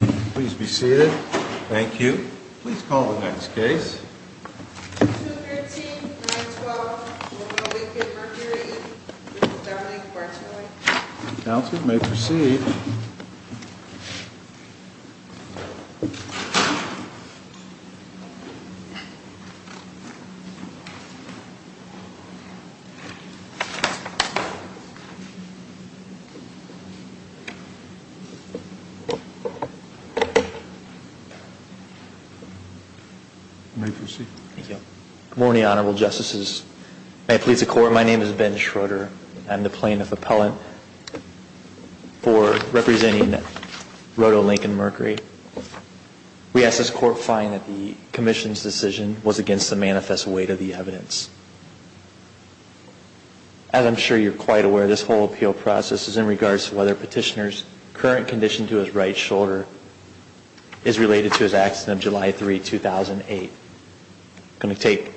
Please be seated. Thank you. Please call the next case. 213, 9-12, Roto Lincoln Mercury, Inc. v. Beverly Works Company. Counsel may proceed. Good morning, Honorable Justices. May it please the Court, my name is Ben Schroeder. I'm the Plaintiff Appellant for representing Roto Lincoln Mercury. We ask this Court find that the Commission's decision was against the manifest weight of the evidence. As I'm sure you're quite aware, this whole appeal process is in regards to whether Petitioner's current condition to his right shoulder is related to his accident of July 3, 2008. I'm going to take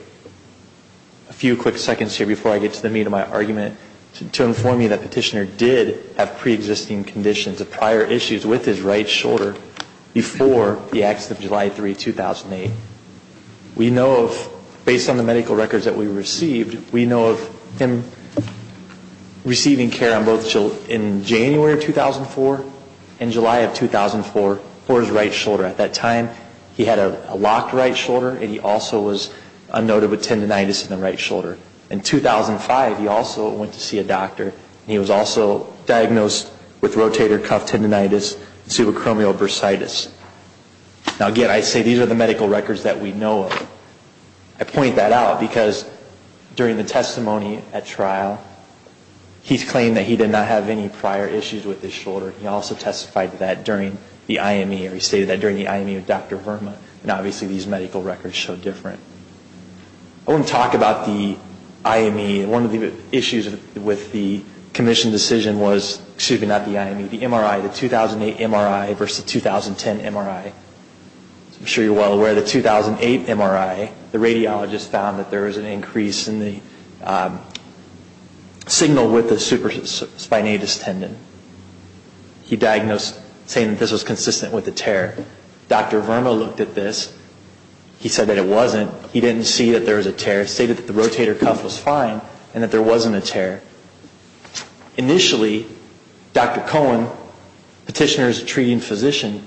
a few quick seconds here before I get to the meat of my argument to inform you that Petitioner did have pre-existing conditions of prior issues with his right shoulder before the accident of July 3, 2008. We know of, based on the medical records that we received, we know of him receiving care in January of 2004 and July of 2004 for his right shoulder. At that time, he had a locked right shoulder and he also was unnoted with tendinitis in the right shoulder. In 2005, he also went to see a doctor and he was also diagnosed with rotator cuff tendinitis and subacromial bursitis. Now, again, I say these are the medical records that we know of. I point that out because during the testimony at trial, he claimed that he did not have any prior issues with his shoulder. He also testified to that during the IME, or he stated that during the IME with Dr. Verma. Now, obviously, these medical records show different. I want to talk about the IME. One of the issues with the commission decision was, excuse me, not the IME, the MRI, the 2008 MRI versus the 2010 MRI. I'm sure you're well aware of the 2008 MRI. The radiologist found that there was an increase in the signal with the supraspinatus tendon. He diagnosed saying that this was consistent with a tear. Dr. Verma looked at this. He said that it wasn't. He didn't see that there was a tear. He stated that the rotator cuff was fine and that there wasn't a tear. Initially, Dr. Cohen, petitioner's treating physician,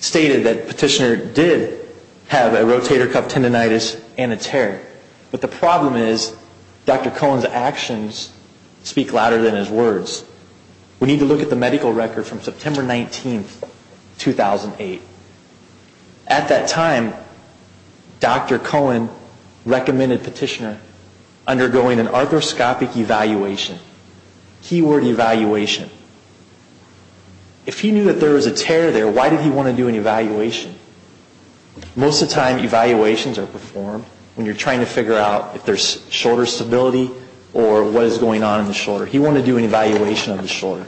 stated that petitioner did have a rotator cuff tendinitis and a tear. But the problem is Dr. Cohen's actions speak louder than his words. We need to look at the medical record from September 19, 2008. At that time, Dr. Cohen recommended petitioner undergoing an arthroscopic evaluation, keyword evaluation. If he knew that there was a tear there, why did he want to do an evaluation? Most of the time, evaluations are performed when you're trying to figure out if there's shoulder stability or what is going on in the shoulder. He wanted to do an evaluation of the shoulder.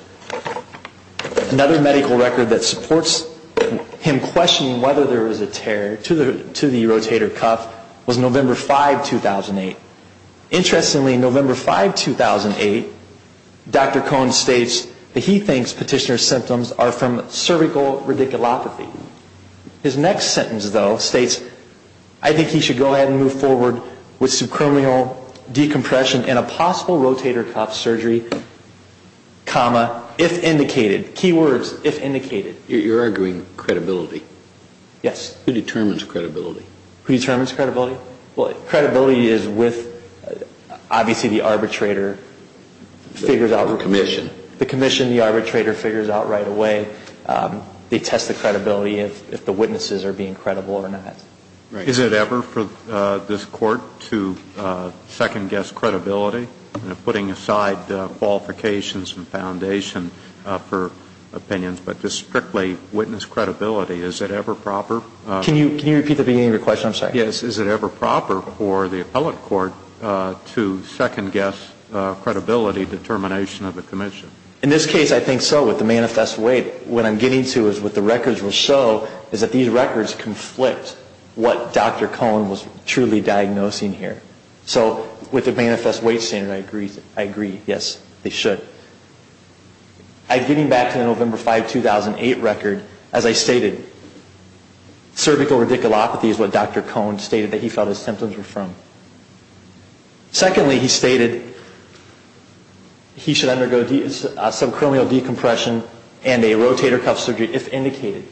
Another medical record that supports him questioning whether there was a tear to the rotator cuff was November 5, 2008. Interestingly, November 5, 2008, Dr. Cohen states that he thinks petitioner's symptoms are from cervical radiculopathy. His next sentence, though, states, I think he should go ahead and move forward with subcranial decompression and a possible rotator cuff surgery, comma, if indicated. Keywords, if indicated. You're arguing credibility. Yes. Who determines credibility? Who determines credibility? Well, credibility is with, obviously, the arbitrator figures out. The commission. The commission, the arbitrator figures out right away. They test the credibility if the witnesses are being credible or not. Right. Is it ever for this Court to second-guess credibility? You know, putting aside qualifications and foundation for opinions, but just strictly witness credibility, is it ever proper? Can you repeat the beginning of your question? I'm sorry. Yes. Is it ever proper for the appellate court to second-guess credibility determination of the commission? In this case, I think so. With the manifest weight, what I'm getting to is what the records will show is that these records conflict what Dr. Cohn was truly diagnosing here. So with the manifest weight standard, I agree. Yes, they should. Getting back to the November 5, 2008 record, as I stated, cervical radiculopathy is what Dr. Cohn stated that he felt his symptoms were from. Secondly, he stated he should undergo subcranial decompression and a rotator cuff surgery if indicated.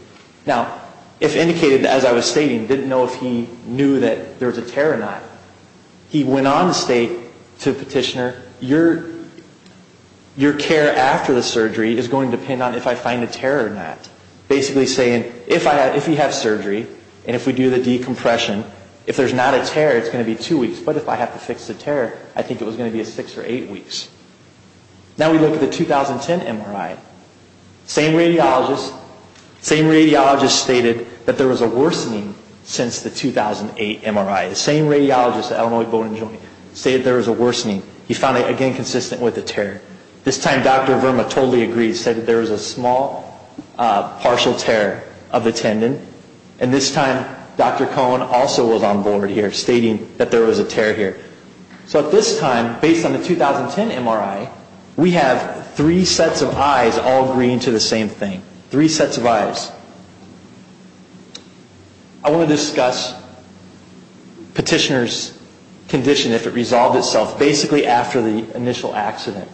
Now, if indicated, as I was stating, didn't know if he knew that there was a tear or not. He went on to state to the petitioner, your care after the surgery is going to depend on if I find a tear or not. Basically saying, if you have surgery and if we do the decompression, if there's not a tear, it's going to be two weeks. But if I have to fix the tear, I think it was going to be six or eight weeks. Now we look at the 2010 MRI. Same radiologist stated that there was a worsening since the 2008 MRI. The same radiologist at Illinois Bone & Joint stated there was a worsening. He found it, again, consistent with the tear. This time, Dr. Verma totally agreed, said that there was a small partial tear of the tendon. And this time, Dr. Cohn also was on board here, stating that there was a tear here. So at this time, based on the 2010 MRI, we have three sets of eyes all agreeing to the same thing. Three sets of eyes. I want to discuss petitioner's condition, if it resolved itself, basically after the initial accident.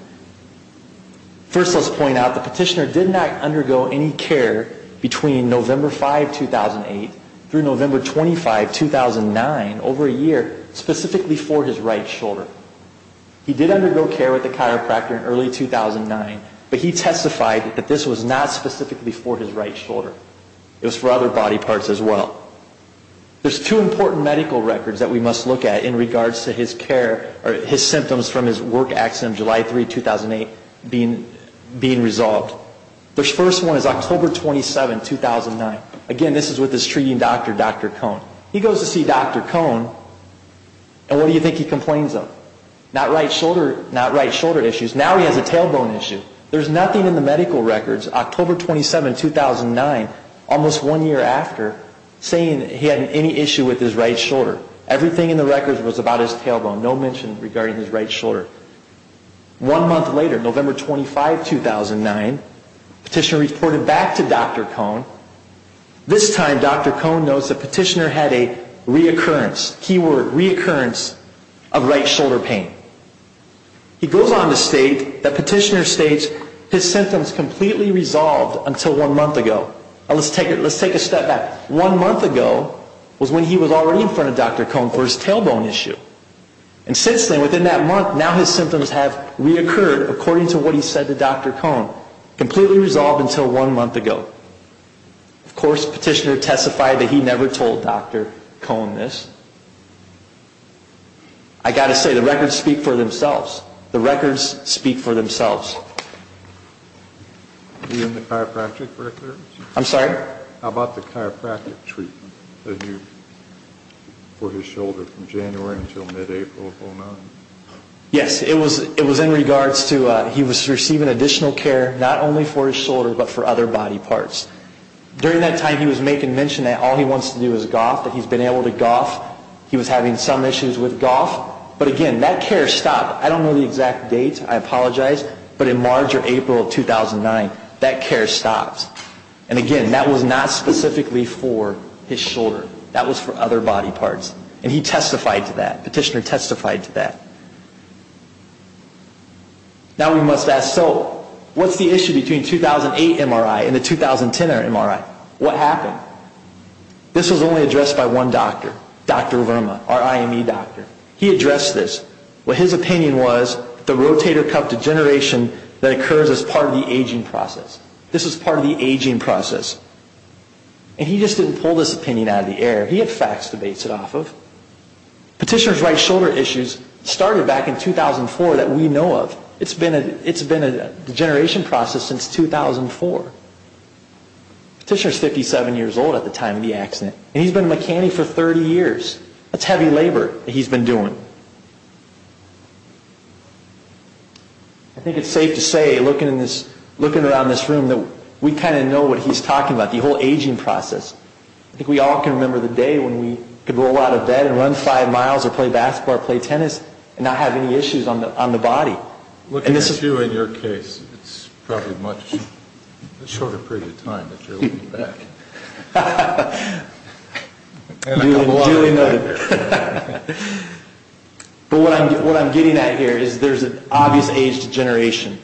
First, let's point out the petitioner did not undergo any care between November 5, 2008, through November 25, 2009, over a year, specifically for his right shoulder. He did undergo care with the chiropractor in early 2009, but he testified that this was not specifically for his right shoulder. It was for other body parts as well. There's two important medical records that we must look at in regards to his care, or his symptoms from his work accident, July 3, 2008, being resolved. The first one is October 27, 2009. Again, this is with his treating doctor, Dr. Cohn. He goes to see Dr. Cohn, and what do you think he complains of? Not right shoulder issues. Now he has a tailbone issue. There's nothing in the medical records. October 27, 2009, almost one year after, saying he had any issue with his right shoulder. Everything in the records was about his tailbone. No mention regarding his right shoulder. One month later, November 25, 2009, petitioner reported back to Dr. Cohn. This time, Dr. Cohn notes that petitioner had a reoccurrence, keyword, reoccurrence of right shoulder pain. He goes on to state that petitioner states his symptoms completely resolved until one month ago. Now let's take a step back. One month ago was when he was already in front of Dr. Cohn for his tailbone issue. And since then, within that month, now his symptoms have reoccurred according to what he said to Dr. Cohn. Completely resolved until one month ago. Of course, petitioner testified that he never told Dr. Cohn this. I've got to say, the records speak for themselves. The records speak for themselves. You mean the chiropractic records? I'm sorry? How about the chiropractic treatment for his shoulder from January until mid-April of 2009? Yes, it was in regards to he was receiving additional care, not only for his shoulder, but for other body parts. During that time, he was making mention that all he wants to do is golf, that he's been able to golf. He was having some issues with golf. But again, that care stopped. I don't know the exact date. I apologize. But in March or April of 2009, that care stopped. And again, that was not specifically for his shoulder. That was for other body parts. And he testified to that. Petitioner testified to that. Now we must ask, so what's the issue between 2008 MRI and the 2010 MRI? What happened? This was only addressed by one doctor, Dr. Verma, our IME doctor. He addressed this. What his opinion was, the rotator cuff degeneration that occurs as part of the aging process. This is part of the aging process. And he just didn't pull this opinion out of the air. He had facts to base it off of. Petitioner's right shoulder issues started back in 2004 that we know of. It's been a degeneration process since 2004. Petitioner's 57 years old at the time of the accident. And he's been a mechanic for 30 years. That's heavy labor that he's been doing. I think it's safe to say, looking around this room, that we kind of know what he's talking about, the whole aging process. I think we all can remember the day when we could roll out of bed and run five miles or play basketball or play tennis and not have any issues on the body. Looking at you and your case, it's probably a much shorter period of time that you're looking back. But what I'm getting at here is there's an obvious age degeneration.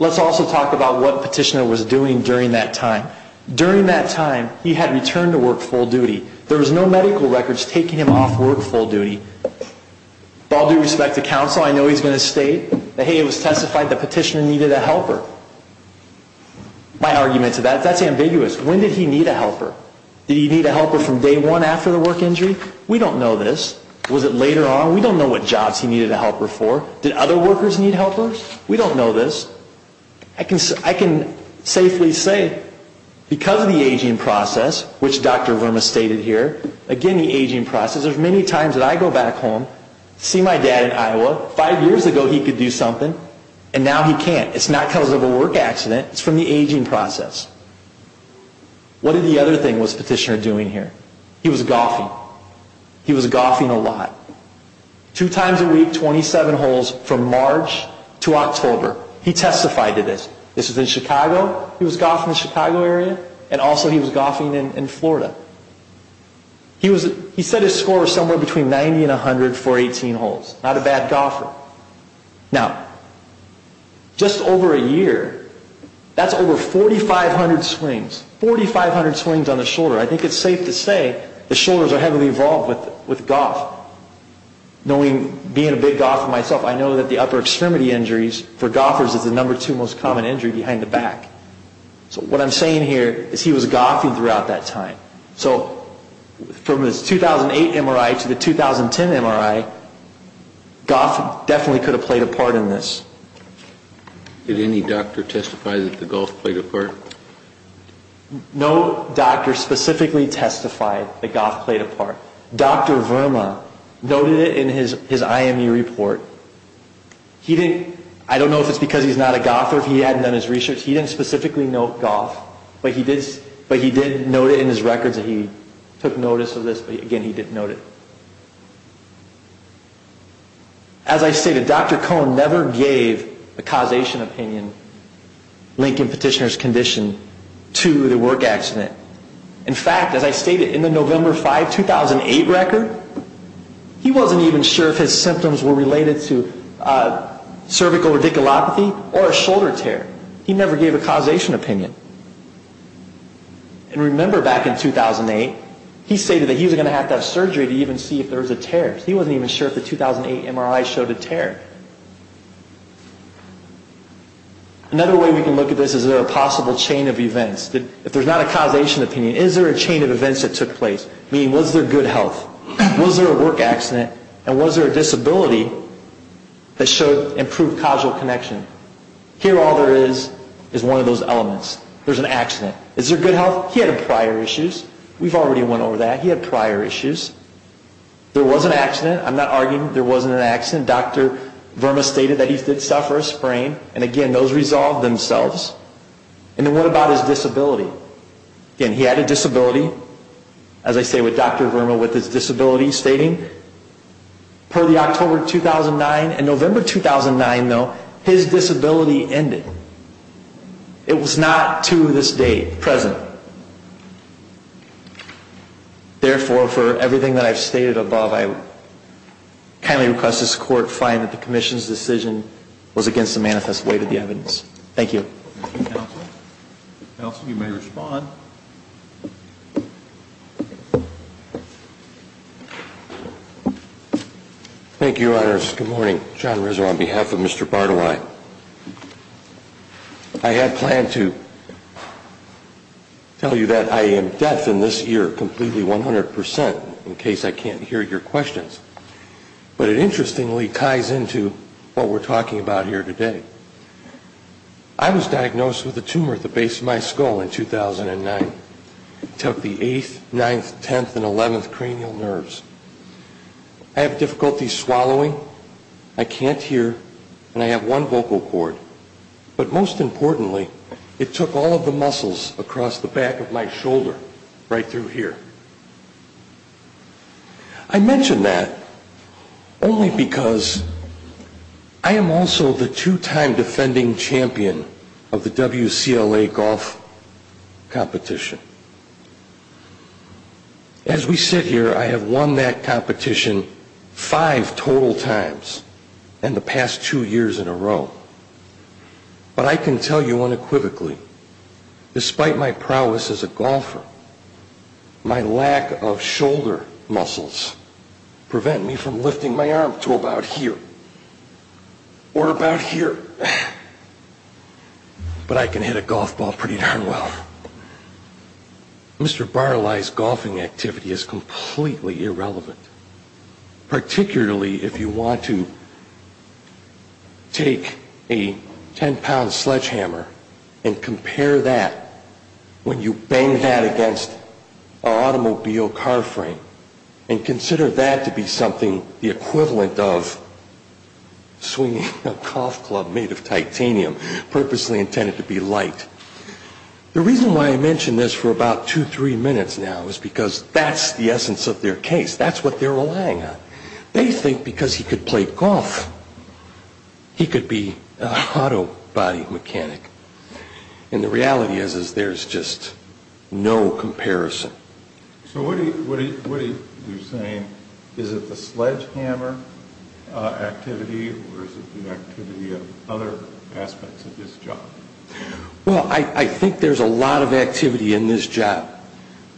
Let's also talk about what Petitioner was doing during that time. During that time, he had returned to work full duty. There was no medical records taking him off work full duty. With all due respect to counsel, I know he's going to state that, hey, it was testified that Petitioner needed a helper. My argument to that, that's ambiguous. When did he need a helper? Did he need a helper from day one after the work injury? We don't know this. Was it later on? We don't know what jobs he needed a helper for. Did other workers need helpers? We don't know this. I can safely say because of the aging process, which Dr. Verma stated here, again, the aging process, there's many times that I go back home, see my dad in Iowa, five years ago he could do something and now he can't. It's not because of a work accident. It's from the aging process. What did the other thing was Petitioner doing here? He was golfing. He was golfing a lot. Two times a week, 27 holes from March to October. He testified to this. This was in Chicago. He was golfing in the Chicago area and also he was golfing in Florida. He said his score was somewhere between 90 and 100 for 18 holes. Not a bad golfer. Now, just over a year, that's over 4,500 swings. 4,500 swings on the shoulder. I think it's safe to say the shoulders are heavily involved with golf. Knowing, being a big golfer myself, I know that the upper extremity injuries for golfers is the number two most common injury behind the back. So what I'm saying here is he was golfing throughout that time. So from his 2008 MRI to the 2010 MRI, golf definitely could have played a part in this. Did any doctor testify that the golf played a part? No doctor specifically testified that golf played a part. Dr. Verma noted it in his IMU report. I don't know if it's because he's not a golfer or if he hadn't done his research. He didn't specifically note golf, but he did note it in his records. He took notice of this, but again, he didn't note it. As I stated, Dr. Cohn never gave a causation opinion linking petitioner's condition to the work accident. In fact, as I stated, in the November 5, 2008 record, he wasn't even sure if his symptoms were related to cervical radiculopathy or a shoulder tear. He never gave a causation opinion. And remember back in 2008, he stated that he was going to have to have surgery to even see if there was a tear. He wasn't even sure if the 2008 MRI showed a tear. Another way we can look at this is is there a possible chain of events? If there's not a causation opinion, is there a chain of events that took place? Meaning was there good health? Was there a work accident? And was there a disability that showed improved causal connection? Here all there is is one of those elements. There's an accident. Is there good health? He had prior issues. We've already went over that. He had prior issues. There was an accident. I'm not arguing there wasn't an accident. Dr. Verma stated that he did suffer a sprain. And again, those resolved themselves. And then what about his disability? Again, he had a disability. As I say, with Dr. Verma with his disability, stating per the October 2009 and November 2009, though, his disability ended. It was not to this day present. Therefore, for everything that I've stated above, I kindly request this Court find that the Commission's decision was against the manifest way to the evidence. Thank you. Counsel, you may respond. Thank you, Your Honors. Good morning. John Rizzo on behalf of Mr. Bartolai. I had planned to tell you that I am deaf in this ear completely 100% in case I can't hear your questions. But it interestingly ties into what we're talking about here today. I was diagnosed with a tumor at the base of my skull in 2009. It took the eighth, ninth, tenth, and eleventh cranial nerves. I have difficulty swallowing. I can't hear. And I have one vocal cord. But most importantly, it took all of the muscles across the back of my shoulder right through here. I mention that only because I am also the two-time defending champion of the WCLA golf competition. As we sit here, I have won that competition five total times in the past two years in a row. But I can tell you unequivocally, despite my prowess as a golfer, my lack of shoulder muscles prevent me from lifting my arm to about here or about here. But I can hit a golf ball pretty darn well. Mr. Barlay's golfing activity is completely irrelevant, particularly if you want to take a 10-pound sledgehammer and compare that when you bang that against an automobile car frame and consider that to be something the equivalent of swinging a golf club made of titanium, purposely intended to be light. The reason why I mention this for about two, three minutes now is because that's the essence of their case. That's what they're relying on. They think because he could play golf, he could be an autobody mechanic. And the reality is there's just no comparison. So what are you saying? Is it the sledgehammer activity or is it the activity of other aspects of his job? Well, I think there's a lot of activity in this job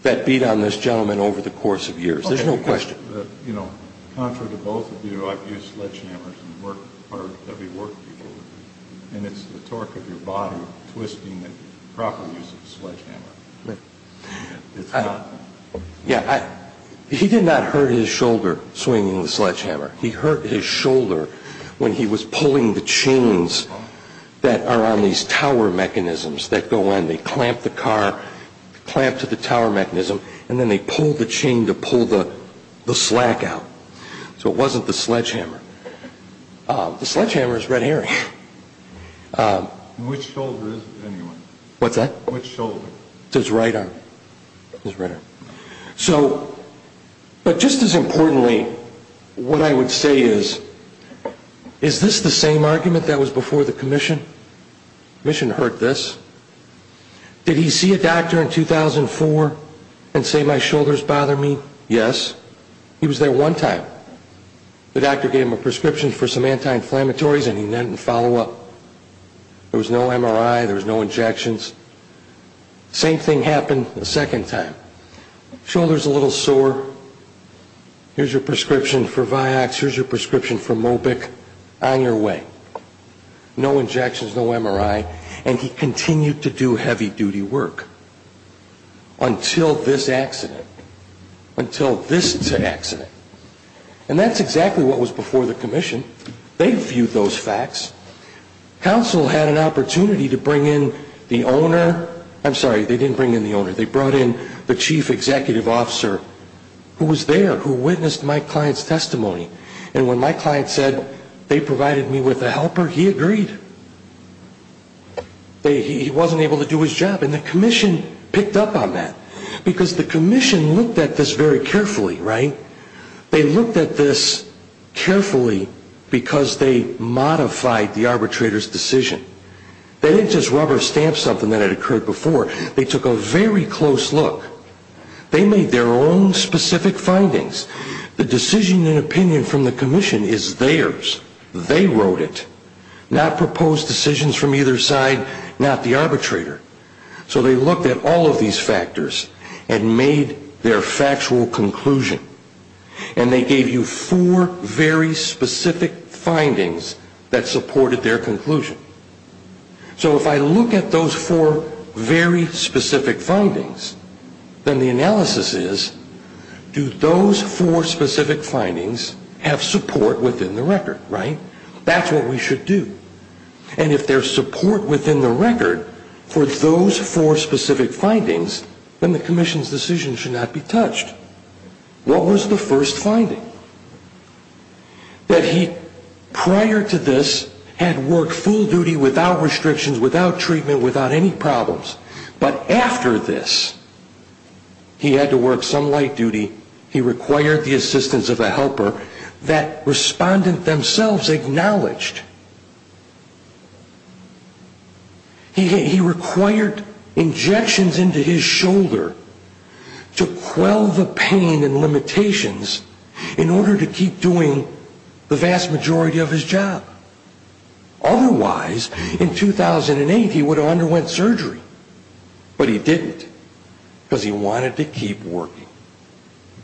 that beat on this gentleman over the course of years. There's no question. Okay, because, you know, contrary to both of you, I've used sledgehammers and worked for heavy work people, and it's the torque of your body twisting that proper use of a sledgehammer. It's not that. Yeah, he did not hurt his shoulder swinging the sledgehammer. He hurt his shoulder when he was pulling the chains that are on these tower mechanisms that go in. They clamp the car, clamp to the tower mechanism, and then they pull the chain to pull the slack out. So it wasn't the sledgehammer. The sledgehammer is red herring. Which shoulder is it, anyway? What's that? Which shoulder? It's his right arm. His right arm. So, but just as importantly, what I would say is, is this the same argument that was before the commission? The commission heard this. Did he see a doctor in 2004 and say, my shoulder's bothering me? Yes. He was there one time. The doctor gave him a prescription for some anti-inflammatories, and he didn't follow up. There was no MRI. There was no injections. Same thing happened a second time. Shoulder's a little sore. Here's your prescription for Vioxx. Here's your prescription for Mobic. On your way. No injections, no MRI, and he continued to do heavy-duty work. Until this accident. Until this accident. And that's exactly what was before the commission. They viewed those facts. Counsel had an opportunity to bring in the owner. I'm sorry, they didn't bring in the owner. They brought in the chief executive officer who was there, who witnessed my client's testimony. And when my client said they provided me with a helper, he agreed. He wasn't able to do his job, and the commission picked up on that. Because the commission looked at this very carefully, right? They looked at this carefully because they modified the arbitrator's decision. They didn't just rub or stamp something that had occurred before. They took a very close look. They made their own specific findings. The decision and opinion from the commission is theirs. They wrote it. Not proposed decisions from either side, not the arbitrator. So they looked at all of these factors and made their factual conclusion. And they gave you four very specific findings that supported their conclusion. So if I look at those four very specific findings, then the analysis is, do those four specific findings have support within the record, right? That's what we should do. And if there's support within the record for those four specific findings, then the commission's decision should not be touched. What was the first finding? That he, prior to this, had worked full duty without restrictions, without treatment, without any problems. But after this, he had to work some light duty. He required the assistance of a helper that respondent themselves acknowledged. He required injections into his shoulder to quell the pain and limitations in order to keep doing the vast majority of his job. Otherwise, in 2008, he would have underwent surgery. But he didn't, because he wanted to keep working.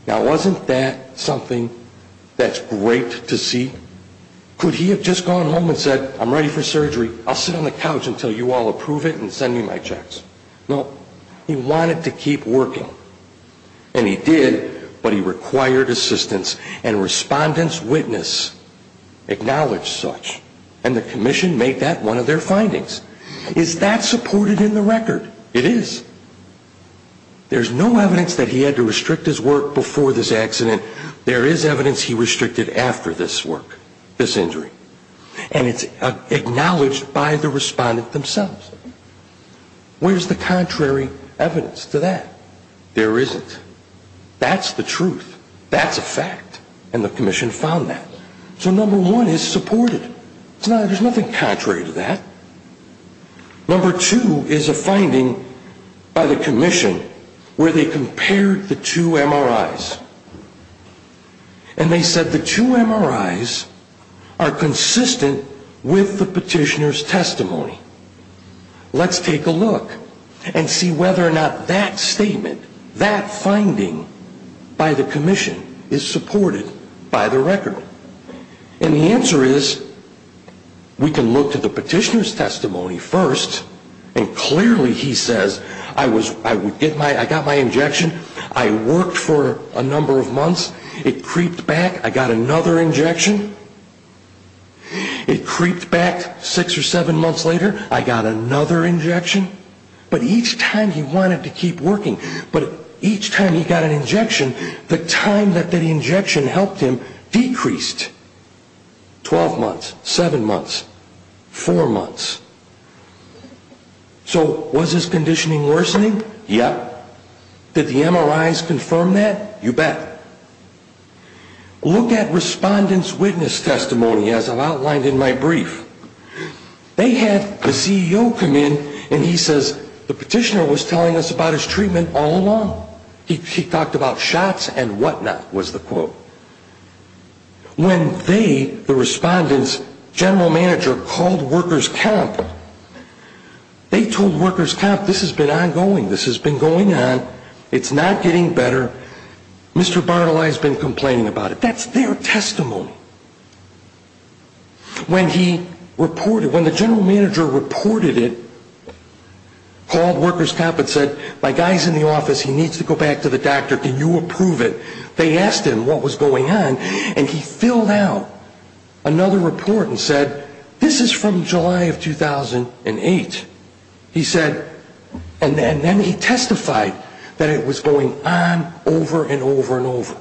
Now, wasn't that something that's great to see? Could he have just gone home and said, I'm ready for surgery. I'll sit on the couch until you all approve it and send me my checks. No. He wanted to keep working. And he did, but he required assistance. And respondent's witness acknowledged such. And the commission made that one of their findings. Is that supported in the record? It is. There's no evidence that he had to restrict his work before this accident. There is evidence he restricted after this work, this injury. And it's acknowledged by the respondent themselves. Where's the contrary evidence to that? There isn't. That's the truth. That's a fact. And the commission found that. So number one is supported. There's nothing contrary to that. Number two is a finding by the commission where they compared the two MRIs. And they said the two MRIs are consistent with the petitioner's testimony. Let's take a look and see whether or not that statement, that finding by the commission is supported by the record. And the answer is we can look to the petitioner's testimony first. And clearly he says, I got my injection. I worked for a number of months. It creeped back. I got another injection. It creeped back six or seven months later. I got another injection. But each time he wanted to keep working, but each time he got an injection, the time that the injection helped him decreased. Twelve months, seven months, four months. So was his conditioning worsening? Yep. Did the MRIs confirm that? You bet. Look at respondent's witness testimony, as I've outlined in my brief. They had the CEO come in, and he says, the petitioner was telling us about his treatment all along. He talked about shots and whatnot, was the quote. When they, the respondent's general manager, called workers' camp, they told workers' camp, this has been ongoing. This has been going on. It's not getting better. Mr. Barnilai has been complaining about it. That's their testimony. When he reported, when the general manager reported it, called workers' camp and said, my guy's in the office. He needs to go back to the doctor. Can you approve it? They asked him what was going on. And he filled out another report and said, this is from July of 2008. He said, and then he testified that it was going on over and over and over.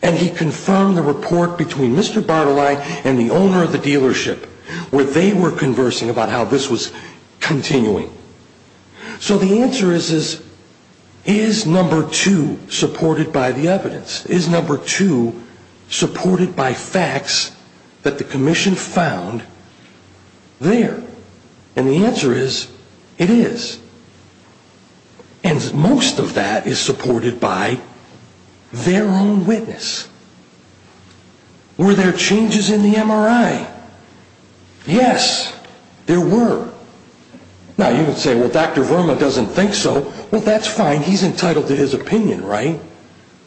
And he confirmed the report between Mr. Barnilai and the owner of the dealership, where they were conversing about how this was continuing. So the answer is, is number two supported by the evidence? Is number two supported by facts that the commission found there? And the answer is, it is. And most of that is supported by their own witness. Were there changes in the MRI? Yes, there were. Now, you would say, well, Dr. Verma doesn't think so. Well, that's fine. He's entitled to his opinion, right?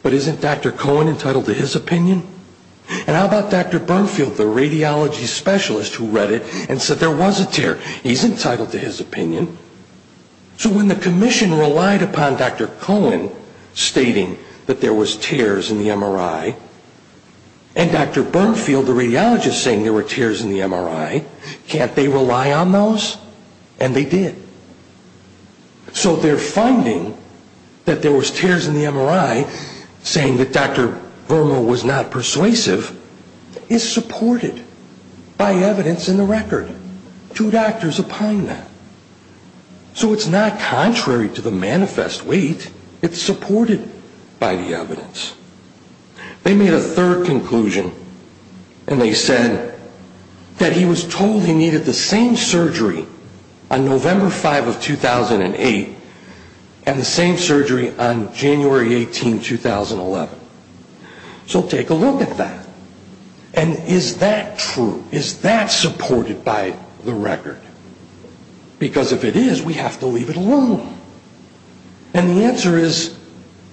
But isn't Dr. Cohen entitled to his opinion? And how about Dr. Bernfield, the radiology specialist who read it and said there was a tear? He's entitled to his opinion. So when the commission relied upon Dr. Cohen stating that there was tears in the MRI, and Dr. Bernfield, the radiologist, saying there were tears in the MRI, can't they rely on those? And they did. So their finding that there was tears in the MRI, saying that Dr. Verma was not persuasive, is supported by evidence in the record. Two doctors opined that. So it's not contrary to the manifest weight. It's supported by the evidence. They made a third conclusion, and they said that he was told he needed the same surgery on November 5 of 2008 and the same surgery on January 18, 2011. So take a look at that. And is that true? Is that supported by the record? Because if it is, we have to leave it alone. And the answer is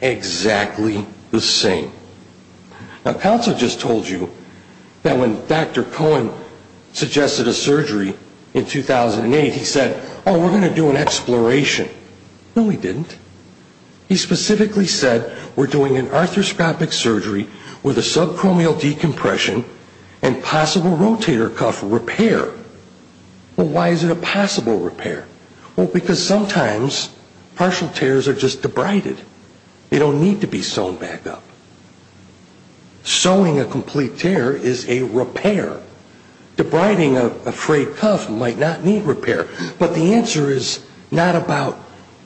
exactly the same. Now, counsel just told you that when Dr. Cohen suggested a surgery in 2008, he said, oh, we're going to do an exploration. No, he didn't. He specifically said, we're doing an arthroscopic surgery with a subchromial decompression and possible rotator cuff repair. Well, why is it a possible repair? Well, because sometimes partial tears are just debrided. They don't need to be sewn back up. Sewing a complete tear is a repair. Debriding a frayed cuff might not need repair. But the answer is not about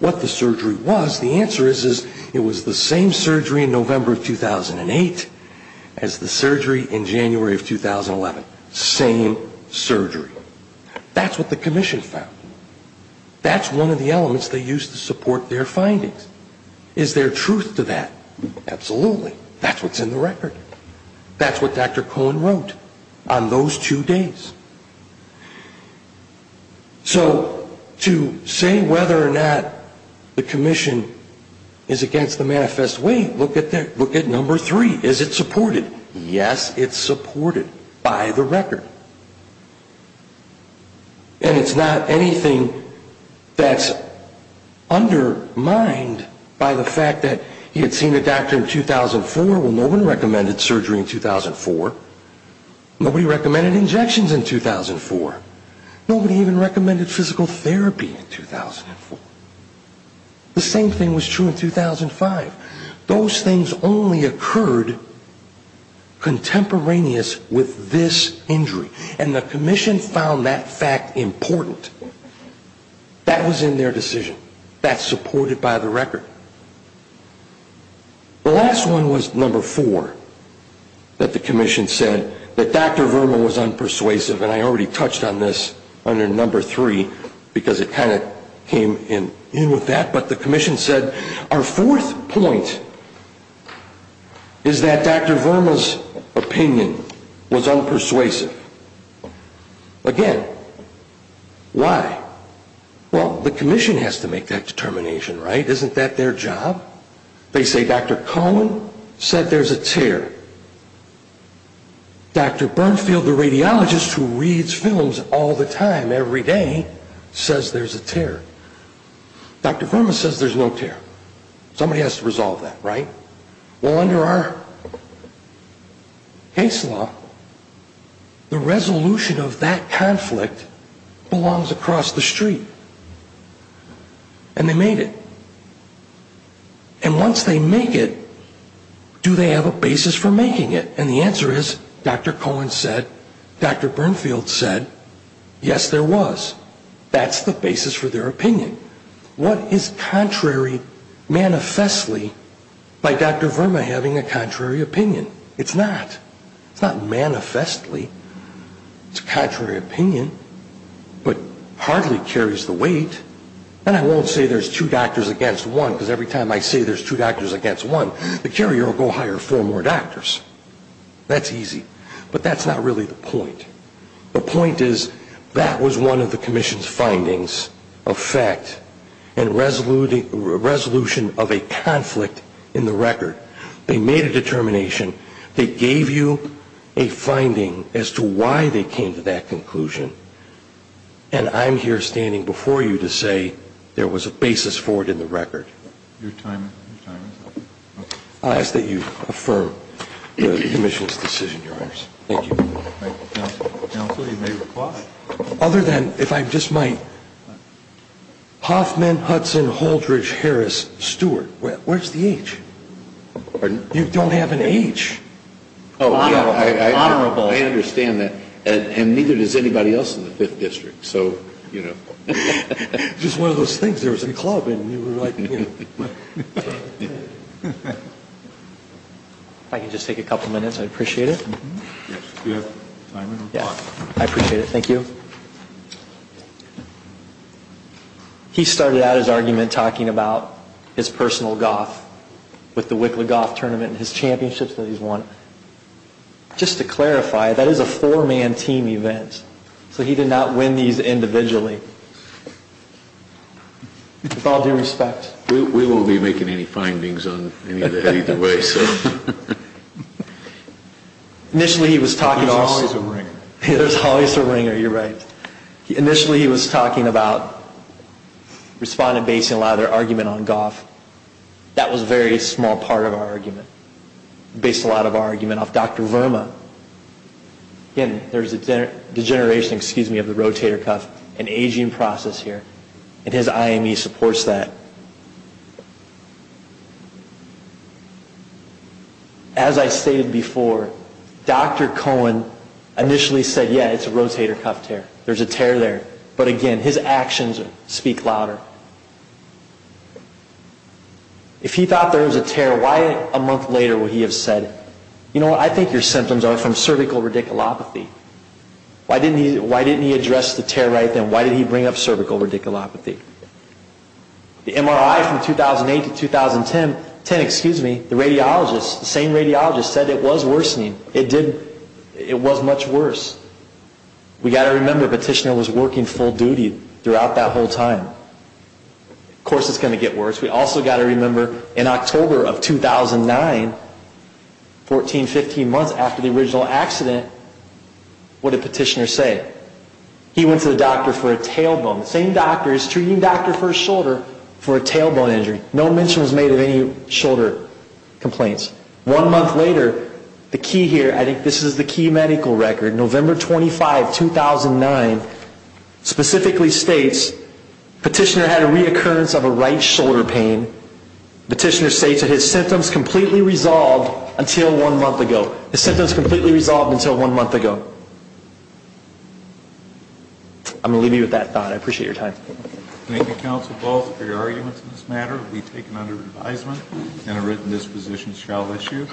what the surgery was. The answer is it was the same surgery in November of 2008 as the surgery in January of 2011. Same surgery. That's what the commission found. That's one of the elements they used to support their findings. Is there truth to that? Absolutely. That's what's in the record. That's what Dr. Cohen wrote on those two days. So to say whether or not the commission is against the manifest, wait, look at number three. Is it supported? Yes, it's supported by the record. And it's not anything that's undermined by the fact that he had seen a doctor in 2004. Well, no one recommended surgery in 2004. Nobody recommended injections in 2004. Nobody even recommended physical therapy in 2004. The same thing was true in 2005. Those things only occurred contemporaneous with this injury. And the commission found that fact important. That was in their decision. That's supported by the record. The last one was number four that the commission said that Dr. Verma was unpersuasive. And I already touched on this under number three because it kind of came in with that. But the commission said our fourth point is that Dr. Verma's opinion was unpersuasive. Again, why? Well, the commission has to make that determination, right? Isn't that their job? They say Dr. Cohen said there's a tear. Dr. Bernfield, the radiologist who reads films all the time every day, says there's a tear. Dr. Verma says there's no tear. Somebody has to resolve that, right? Well, under our case law, the resolution of that conflict belongs across the street. And they made it. And once they make it, do they have a basis for making it? And the answer is Dr. Cohen said, Dr. Bernfield said, yes, there was. That's the basis for their opinion. What is contrary manifestly by Dr. Verma having a contrary opinion? It's not. It's not manifestly. It's a contrary opinion but hardly carries the weight. And I won't say there's two doctors against one because every time I say there's two doctors against one, the carrier will go hire four more doctors. That's easy. But that's not really the point. The point is that was one of the commission's findings of fact and resolution of a conflict in the record. They made a determination. They gave you a finding as to why they came to that conclusion. And I'm here standing before you to say there was a basis for it in the record. Your time is up. I ask that you affirm the commission's decision, Your Honors. Thank you. Counsel, you may reply. Other than if I just might, Hoffman, Hudson, Haldridge, Harris, Stewart, where's the H? Pardon? You don't have an H. Oh, yeah. Honorable. I understand that. And neither does anybody else in the Fifth District. So, you know. Just one of those things. There was a club and you were like. If I could just take a couple minutes. I appreciate it. Yes. Do you have time? Yeah. I appreciate it. Thank you. He started out his argument talking about his personal golf with the Wicklow Golf Tournament and his championships that he's won. Just to clarify, that is a four-man team event. So, he did not win these individually. With all due respect. We won't be making any findings on any of that either way. Initially, he was talking to us. There's always a ringer. There's always a ringer. You're right. Initially, he was talking about respondent basing a lot of their argument on golf. That was a very small part of our argument. Based a lot of our argument off Dr. Verma. Again, there's a degeneration of the rotator cuff. An aging process here. And his IME supports that. As I stated before, Dr. Cohen initially said, yeah, it's a rotator cuff tear. There's a tear there. But again, his actions speak louder. If he thought there was a tear, why a month later would he have said, you know what, I think your symptoms are from cervical radiculopathy. Why didn't he address the tear right then? Why did he bring up cervical radiculopathy? The MRI from 2008 to 2010, the same radiologist said it was worsening. It was much worse. We've got to remember the petitioner was working full duty throughout that whole time. Of course, it's going to get worse. We've also got to remember in October of 2009, 14, 15 months after the original accident, what did the petitioner say? He went to the doctor for a tailbone. The same doctor is treating a doctor for a shoulder for a tailbone injury. No mention was made of any shoulder complaints. One month later, the key here, I think this is the key medical record, November 25, 2009, specifically states petitioner had a reoccurrence of a right shoulder pain. Petitioner states that his symptoms completely resolved until one month ago. His symptoms completely resolved until one month ago. I'm going to leave you with that thought. I appreciate your time. Thank you, Counsel Ball, for your arguments on this matter. It will be taken under advisement and a written disposition shall issue.